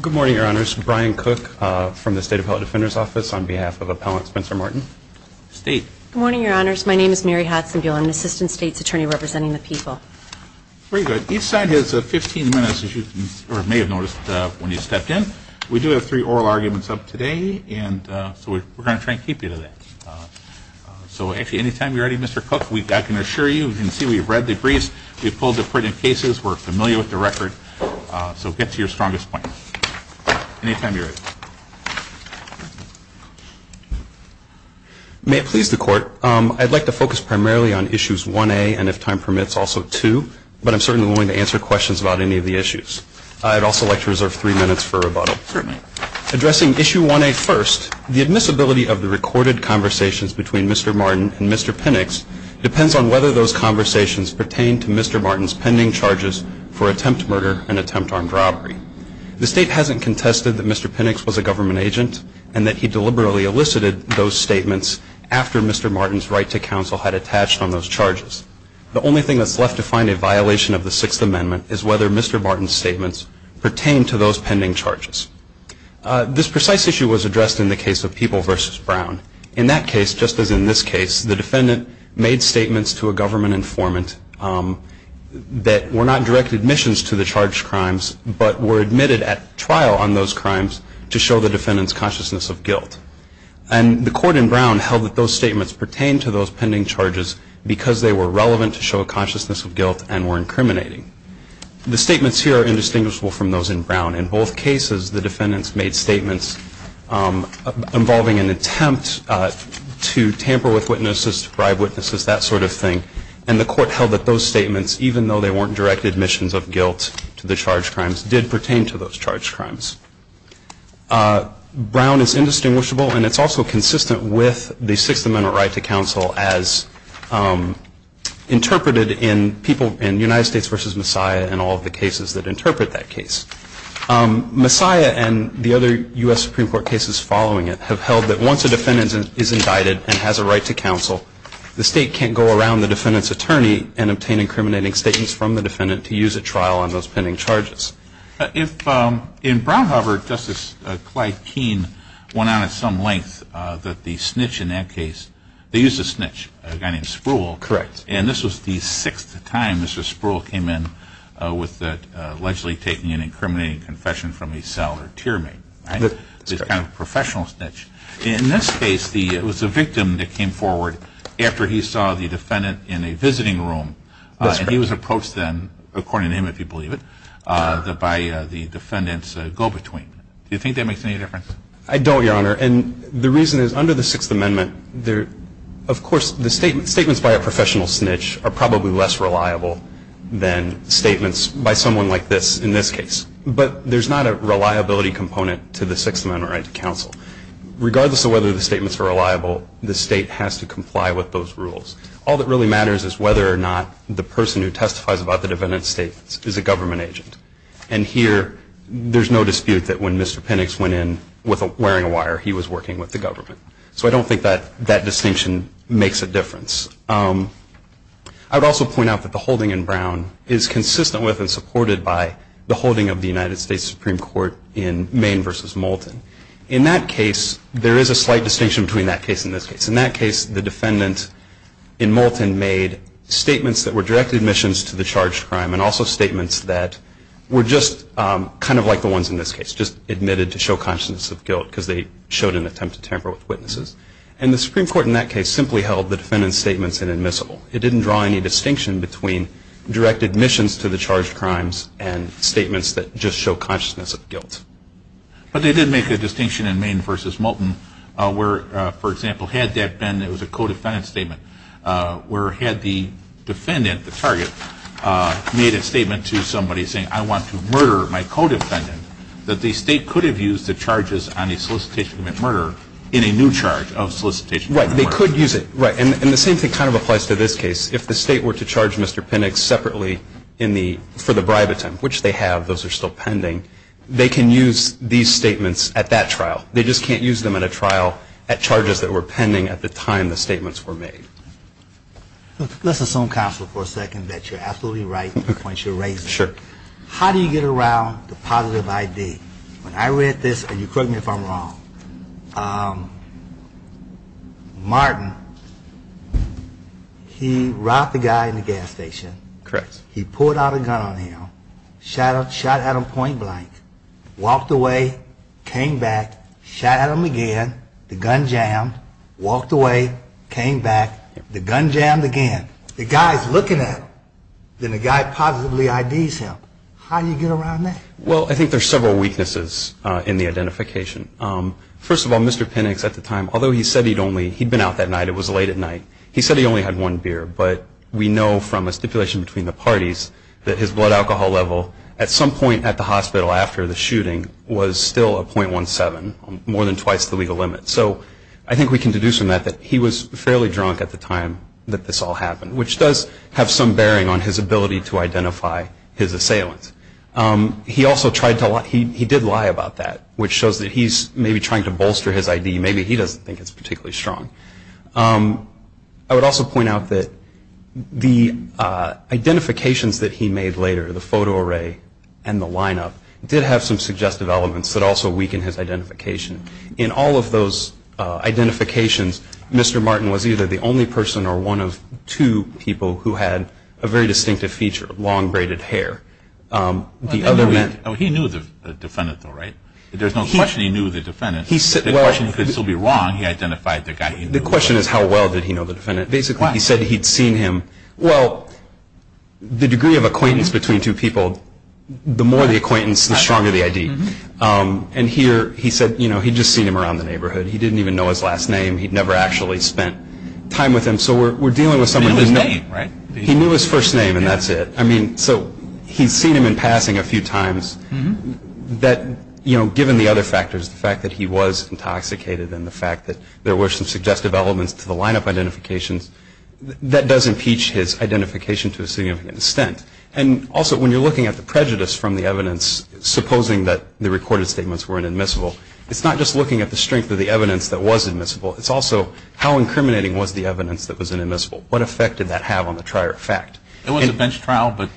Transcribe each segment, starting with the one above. Good morning, your honors. My name is Mary Hudson Buell. I'm an assistant state's attorney representing the people. Very good. Each side has 15 minutes as you may have noticed when you stepped in. We do have three oral arguments up today and so we're going to try and keep you to that. So actually anytime you're ready, Mr. Cook, I can assure you, you can see we've read the briefs, we've pulled the printed cases, we're familiar with the record, so get to your strongest point. Anytime you're ready. May it please the court, I'd like to focus primarily on issues 1A and if time permits, also 2, but I'm certainly willing to answer questions about any of the issues. I'd also like to reserve three minutes for rebuttal. Certainly. Addressing issue 1A first, the admissibility of the recorded conversations between Mr. Martin and Mr. Pinnocks depends on whether those conversations pertain to Mr. Martin's pending charges for attempt murder and attempt armed robbery. The state hasn't contested that Mr. Pinnocks was a government agent and that he deliberately elicited those statements after Mr. Martin's right to counsel had attached on those charges. The only thing that's left to find a violation of the Sixth Amendment is whether Mr. Martin's statements pertain to those pending charges. This precise issue was addressed in the case of People v. Brown. In that case, just as in this case, the defendant made statements to a government informant that were not direct admissions to the charged crimes, but were admitted at trial on those crimes to show the defendant's consciousness of guilt. And the court in Brown held that those statements pertain to those pending charges because they were relevant to show a consciousness of guilt and were incriminating. The statements here are indistinguishable from those in Brown. In both cases, the defendants made statements involving an attempt to tamper with witnesses, to bribe witnesses, that sort of thing. And the court held that those statements, even though they weren't direct admissions of guilt to the charged crimes, did pertain to those charged crimes. Brown is indistinguishable, and it's also consistent with the Sixth Amendment right to counsel as interpreted in United States v. Messiah and all of the cases that interpret that case. Messiah and the other U.S. Supreme Court cases following it have held that once a defendant is indicted and has a right to counsel, the state can't go around the defendant's attorney and obtain incriminating statements from the defendant to use at trial on those pending charges. In Brown, however, Justice Clyde Keene went on at some length that the snitch in that case, they used a snitch, a guy named Spruill. Correct. And this was the sixth time Mr. Spruill came in with allegedly taking an incriminating confession from a cell or tier mate. Right. This kind of professional snitch. In this case, it was a victim that came forward after he saw the defendant in a visiting room. That's correct. And it was then, according to him if you believe it, that by the defendant's go-between. Do you think that makes any difference? I don't, Your Honor. And the reason is under the Sixth Amendment, of course, the statements by a professional snitch are probably less reliable than statements by someone like this in this case. But there's not a reliability component to the Sixth Amendment right to counsel. Regardless of whether the statements are reliable, the state has to comply with those rules. All that really matters is whether or not the person who testifies about the defendant states is a government agent. And here, there's no dispute that when Mr. Penix went in wearing a wire, he was working with the government. So I don't think that distinction makes a difference. I would also point out that the holding in Brown is consistent with and supported by the holding of the United States Supreme Court in Maine v. Moulton. In that case, there is a slight distinction between that case and this case. In that case, the defendant in Moulton made statements that were direct admissions to the charged crime and also statements that were just kind of like the ones in this case, just admitted to show consciousness of guilt because they showed an attempt to tamper with witnesses. And the Supreme Court in that case simply held the defendant's statements inadmissible. It didn't draw any distinction between direct admissions to the charged crimes and statements that just show consciousness of guilt. But they did make a distinction in Maine v. Moulton where, for example, had that been a co-defendant statement where had the defendant, the target, made a statement to somebody saying, I want to murder my co-defendant, that the state could have used the charges on a solicitation of murder in a new charge of solicitation of murder. Right. They could use it. Right. And the same thing kind of applies to this case. If the state were to charge Mr. Penix separately for the bribe attempt, which they have, those are still pending, they can use these statements at that trial. They just can't use them at a trial at charges that were pending at the time the statements were made. Let's assume, counsel, for a second, that you're absolutely right in the points you're raising. Sure. How do you get around the positive ID? When I read this, and you correct me if I'm wrong, Martin, he robbed a guy in the gas station. Correct. He pulled out a gun on him, shot at him point blank, walked away, came back, shot at him again, the gun jammed, walked away, came back, the gun jammed again. The guy's looking at him. Then the guy positively IDs him. How do you get around that? Well, I think there's several weaknesses in the identification. First of all, Mr. Penix at the time, although he said he'd only, he'd been out that night, it was late at night, he said he only had one beer, but we know from a stipulation between the parties that his blood alcohol level, at some point at the hospital after the shooting, was still a .17, more than twice the legal limit. So I think we can deduce from that that he was fairly drunk at the time that this all happened, which does have some bearing on his ability to identify his assailants. He also tried to lie. He did lie about that, which shows that he's maybe trying to bolster his ID. Maybe he doesn't think it's particularly strong. I would also point out that the identifications that he made later, the photo array and the lineup, did have some suggestive elements that also weakened his identification. In all of those identifications, Mr. Martin was either the only person or one of two people who had a very distinctive feature, long braided hair. He knew the defendant though, right? There's no question he knew the defendant. The question could still be wrong. He identified the guy he knew. The question is how well did he know the defendant. Basically he said he'd seen him. Well, the degree of acquaintance between two people, the more the acquaintance, the stronger the ID. And here he said he'd just seen him around the neighborhood. He didn't even know his last name. He'd never actually spent time with him. So we're dealing with someone who knew his first name and that's it. I mean, so he's seen him in passing a few times. That, you know, given the other factors, the fact that he was intoxicated and the fact that there were some suggestive elements to the lineup identifications, that does impeach his identification to a significant extent. And also when you're looking at the prejudice from the evidence, supposing that the recorded statements were inadmissible, it's not just looking at the strength of the evidence that was admissible, it's also how incriminating was the evidence that was inadmissible. What effect did that have on the prior fact? It was a bench trial, but...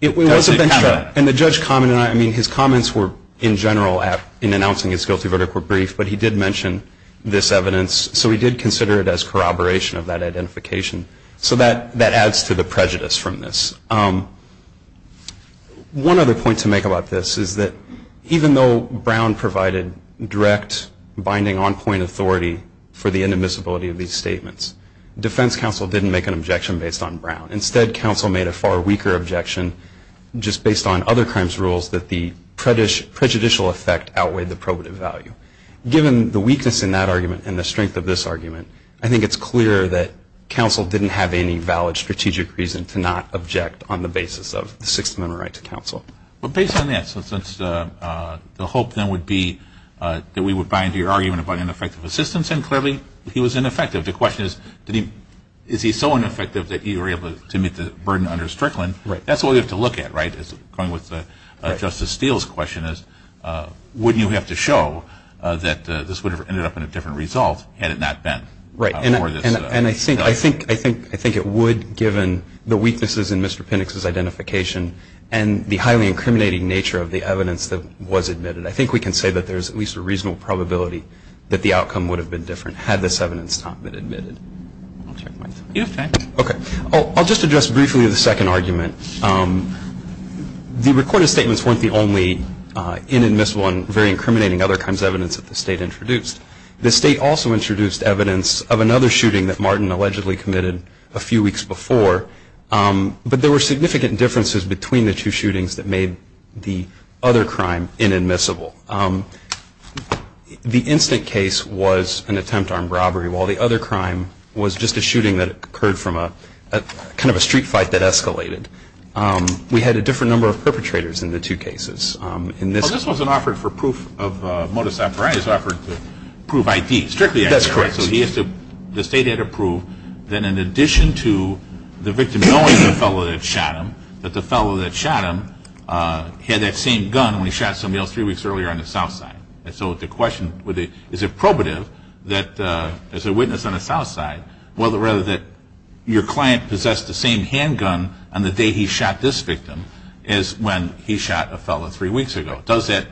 It was a bench trial. And the judge commented on it. I mean, his comments were in general in announcing his guilty verdict were brief, but he did mention this evidence. So he did consider it as corroboration of that identification. So that adds to the prejudice from this. One other point to make about this is that even though Brown provided direct binding on-point authority for the inadmissibility of these statements, defense counsel didn't make an objection based on Brown. Instead, counsel made a far weaker objection just based on other crimes rules that the prejudicial effect outweighed the probative value. Given the weakness in that argument and the strength of this argument, I think it's clear that counsel didn't have any valid strategic reason to not object on the basis of the Sixth Amendment right to counsel. But based on that, so since the hope then would be that we would bind to your argument about ineffective assistance, and clearly he was ineffective. The question is, is he so ineffective that you were able to meet the burden under Strickland? That's what we have to look at, right? Going with Justice Steele's question is, wouldn't you have to show that this would have ended up in a different result had it not been? Right. And I think it would given the weaknesses in Mr. Pinnock's identification and the highly incriminating nature of the evidence that was admitted. I think we can say that there's at least a reasonable probability that the outcome would have been different had this evidence not been admitted. I'll just address briefly the second argument. The recorded statements weren't the only inadmissible and very incriminating other crimes evidence that the State introduced. The State also introduced evidence of another shooting that Martin allegedly committed a few weeks before, but there were significant differences between the two shootings that made the other crime inadmissible. The instant case was an attempt armed robbery, while the other crime was just a shooting that occurred from a kind of a street fight that escalated. We had a different number of perpetrators in the two cases. This wasn't offered for proof of modus operandi. It was offered to prove I.D. Strictly I.D. That's correct. So the State had to prove that in addition to the victim knowing the fellow that shot him, that the fellow that shot him had that same gun when he shot somebody else three weeks earlier on the south side. So the question is, is it probative that there's a witness on the south side, rather that your client possessed the same handgun on the day he shot this victim, as when he shot a fellow three weeks ago? Does that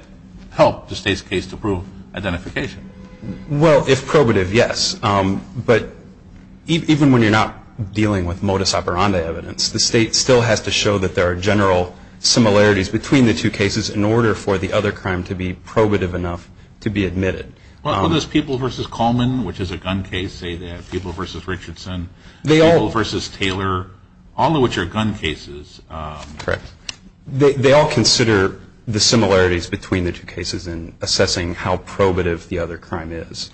help the State's case to prove identification? Well, if probative, yes. But even when you're not dealing with modus operandi evidence, the State still has to show that there are general similarities between the two cases in order for the other crime to be probative enough to be admitted. Well, does Peeble v. Coleman, which is a gun case, say that? Peeble v. Richardson, Peeble v. Taylor, all of which are gun cases. Correct. They all consider the similarities between the two cases in assessing how probative the other crime is.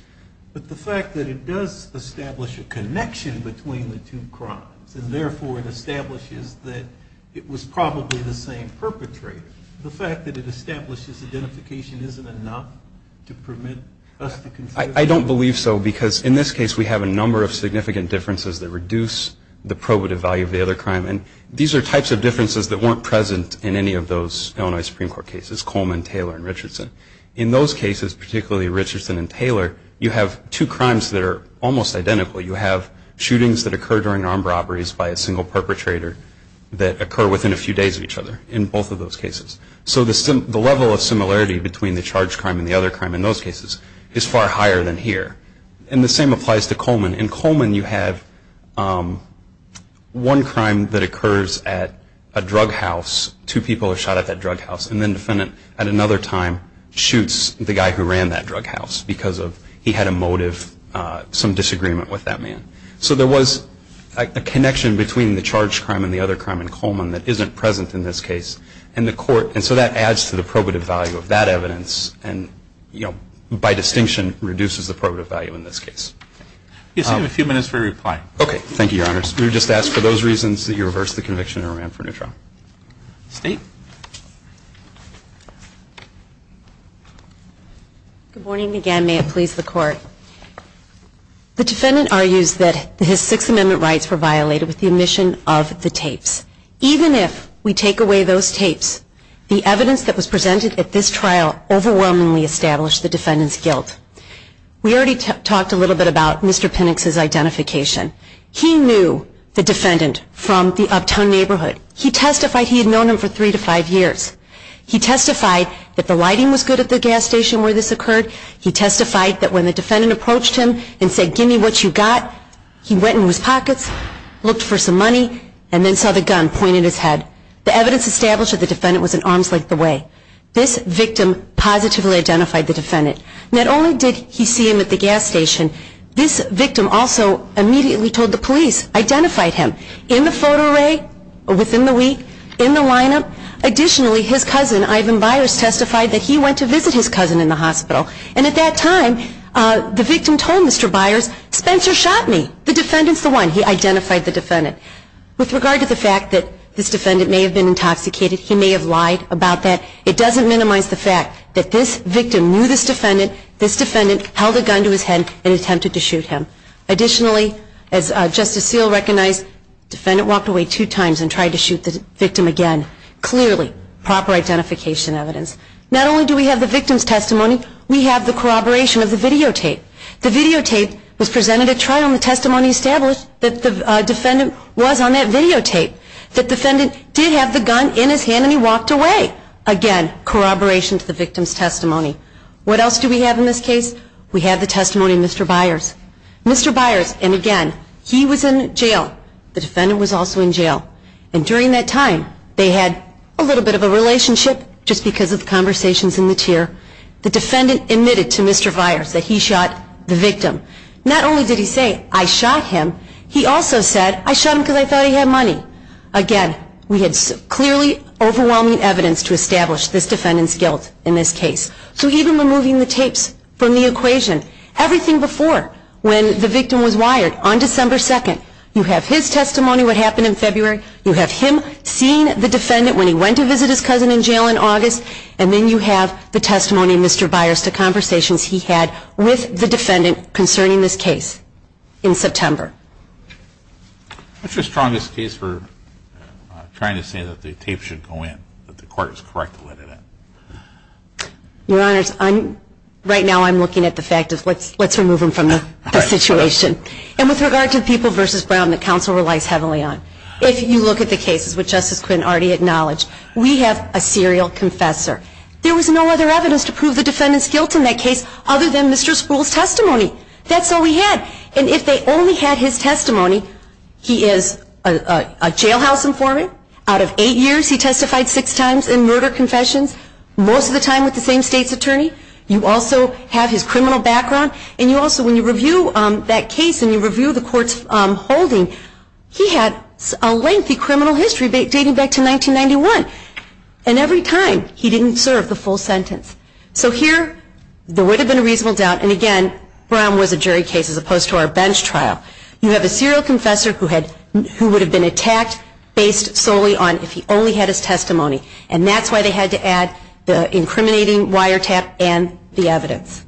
But the fact that it does establish a connection between the two crimes and therefore it establishes that it was probably the same perpetrator, the fact that it establishes identification isn't enough to permit us to consider? I don't believe so, because in this case we have a number of significant differences that reduce the probative value of the other crime. And these are types of differences that weren't present in any of those Illinois Supreme Court cases, Coleman, Taylor, and Richardson. In those cases, particularly Richardson and Taylor, you have two crimes that are almost identical. You have shootings that occur during armed robberies by a single perpetrator that occur within a few days of each other in both of those cases. So the level of similarity between the charge crime and the other crime in those cases is far higher than here. And the same applies to Coleman. In Coleman you have one crime that occurs at a drug house, two people are shot at that drug house, and then the defendant at another time shoots the guy who ran that drug house because he had a motive, some disagreement with that man. So there was a connection between the charge crime and the other crime in Coleman that isn't present in this case. And so that adds to the probative value of that evidence and by distinction reduces the probative value in this case. You still have a few minutes for your reply. Okay. Thank you, Your Honors. We would just ask for those reasons that you reverse the conviction and remand for new trial. State. Good morning again. May it please the Court. The defendant argues that his Sixth Amendment rights were violated with the omission of the tapes. Even if we take away those tapes, the evidence that was presented at this trial overwhelmingly established the defendant's guilt. We already talked a little bit about Mr. Pinnock's identification. He knew the defendant from the uptown neighborhood. He testified he had known him for three different years. He testified that the lighting was good at the gas station where this occurred. He testified that when the defendant approached him and said, give me what you got, he went in his pockets, looked for some money, and then saw the gun pointed at his head. The evidence established that the defendant was in arms length away. This victim positively identified the defendant. Not only did he see him at the gas station, this victim also immediately told the police, identified him. In the photo array within the week, in the lineup, additionally his cousin, Ivan Byers, testified that he went to visit his cousin in the hospital. And at that time, the victim told Mr. Byers, Spencer shot me. The defendant's the one. He identified the defendant. With regard to the fact that this defendant may have been intoxicated, he may have lied about that, it doesn't minimize the fact that this victim knew this defendant, this defendant held a gun to his head and attempted to shoot him. Additionally, as Justice Seal recognized, the defendant walked away two times and tried to shoot the victim again. Clearly, proper identification evidence. Not only do we have the victim's testimony, we have the corroboration of the videotape. The videotape was presented at trial and the testimony established that the defendant was on that videotape. The defendant did have the gun in his hand and he walked away. Again, corroboration to the victim's testimony. What else do we have in this case? We have the testimony of Mr. Byers. Mr. Byers, and again, he was in jail. The defendant was also in jail. And during that time, they had a little bit of a relationship, just because of conversations in the chair. The defendant admitted to Mr. Byers that he shot the victim. Not only did he say, I shot him, he also said, I shot him because I thought he had money. Again, we had clearly overwhelming evidence to establish this defendant's guilt in this case. So even removing the tapes from the equation, everything before when the victim was wired, on December 2nd, you have his testimony, what happened in February, you have him seeing the defendant when he went to visit his cousin in jail in August, and then you have the testimony of Mr. Byers to conversations he had with the defendant concerning this case in September. What's your strongest case for trying to say that the tape should go in, that the court is correct to let it in? Your Honors, right now I'm looking at the fact of, let's remove him from the situation. And with regard to People v. Brown, the counsel relies heavily on. If you look at the cases, which Justice Quinn already acknowledged, we have a serial confessor. There was no other evidence to prove the defendant's guilt in that case other than Mr. Spruill's testimony. That's all we had. And if they only had his testimony, he is a jailhouse informant. Out of eight years, he testified six times in murder confessions, most of the time with the same state's attorney. You also have his criminal background, and you also, when you review that case and you review the court's holding, he had a lengthy criminal history dating back to 1991. And every time, he didn't serve the full sentence. So here, there would have been a reasonable doubt, and again, Brown was a jury case as opposed to our bench trial. You have a serial confessor who would have been attacked based solely on if he only had his testimony, and that's why they had to add the incriminating wiretap and the evidence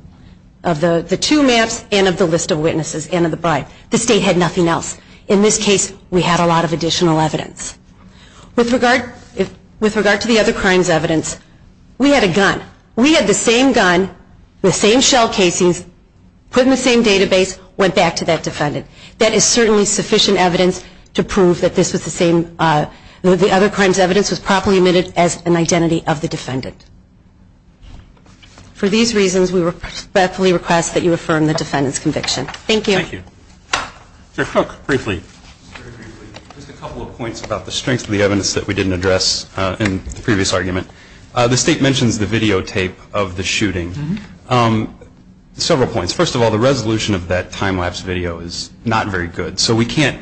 of the two maps and of the list of witnesses and of the bribe. The state had nothing else. In this case, we had a lot of additional evidence. With regard to the other crimes evidence, we had a gun. We had the same gun, the same shell casings, put in the same database, and the evidence went back to that defendant. That is certainly sufficient evidence to prove that this was the same. The other crimes evidence was properly admitted as an identity of the defendant. For these reasons, we respectfully request that you affirm the defendant's conviction. Thank you. Thank you. Sir Cook, briefly. Just a couple of points about the strength of the evidence that we didn't address in the previous argument. The state mentions the videotape of the shooting. Several points. First of all, the resolution of that time-lapse video is not very good, so we can't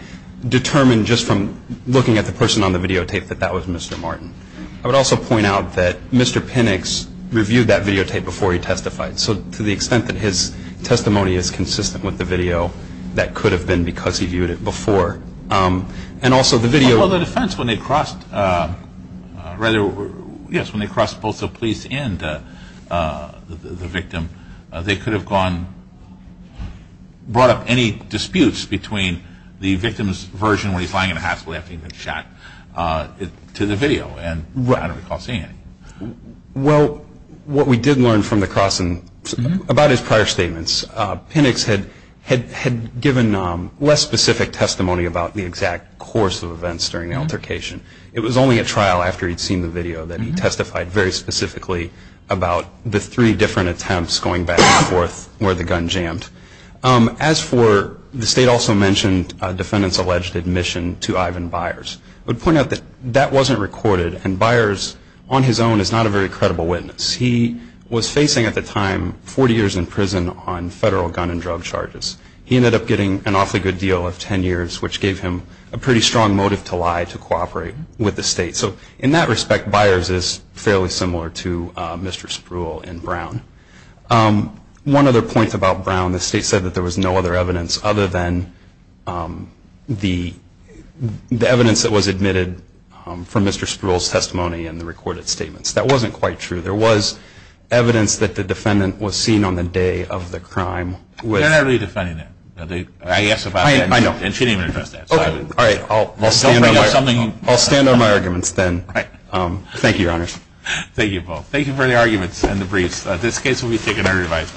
determine just from looking at the person on the videotape that that was Mr. Martin. I would also point out that Mr. Pinnicks reviewed that videotape before he testified, so to the extent that his testimony is consistent with the video, that could have been because he viewed it before. And also the video- Yes, when they crossed both the police and the victim, they could have brought up any disputes between the victim's version where he's lying in a hospital after he'd been shot to the video, and I don't recall seeing any. Well, what we did learn from the crossing about his prior statements, Pinnicks had given less specific testimony about the exact course of events during the altercation. It was only at trial after he'd seen the video that he testified very specifically about the three different attempts going back and forth where the gun jammed. As for the state also mentioned defendants' alleged admission to Ivan Byers. I would point out that that wasn't recorded, and Byers on his own is not a very credible witness. He was facing at the time 40 years in prison on federal gun and drug charges. He ended up getting an awfully good deal of 10 years, which gave him a pretty strong motive to lie to cooperate with the state. So in that respect, Byers is fairly similar to Mr. Spruill in Brown. One other point about Brown, the state said that there was no other evidence other than the evidence that was admitted from Mr. Spruill's testimony and the recorded statements. That wasn't quite true. There was evidence that the defendant was seen on the day of the crime. They're not really defending that. I know. And she didn't even address that. All right. I'll stand on my arguments then. Thank you, Your Honors. Thank you both. Thank you for the arguments and the briefs. This case will be taken under revisal.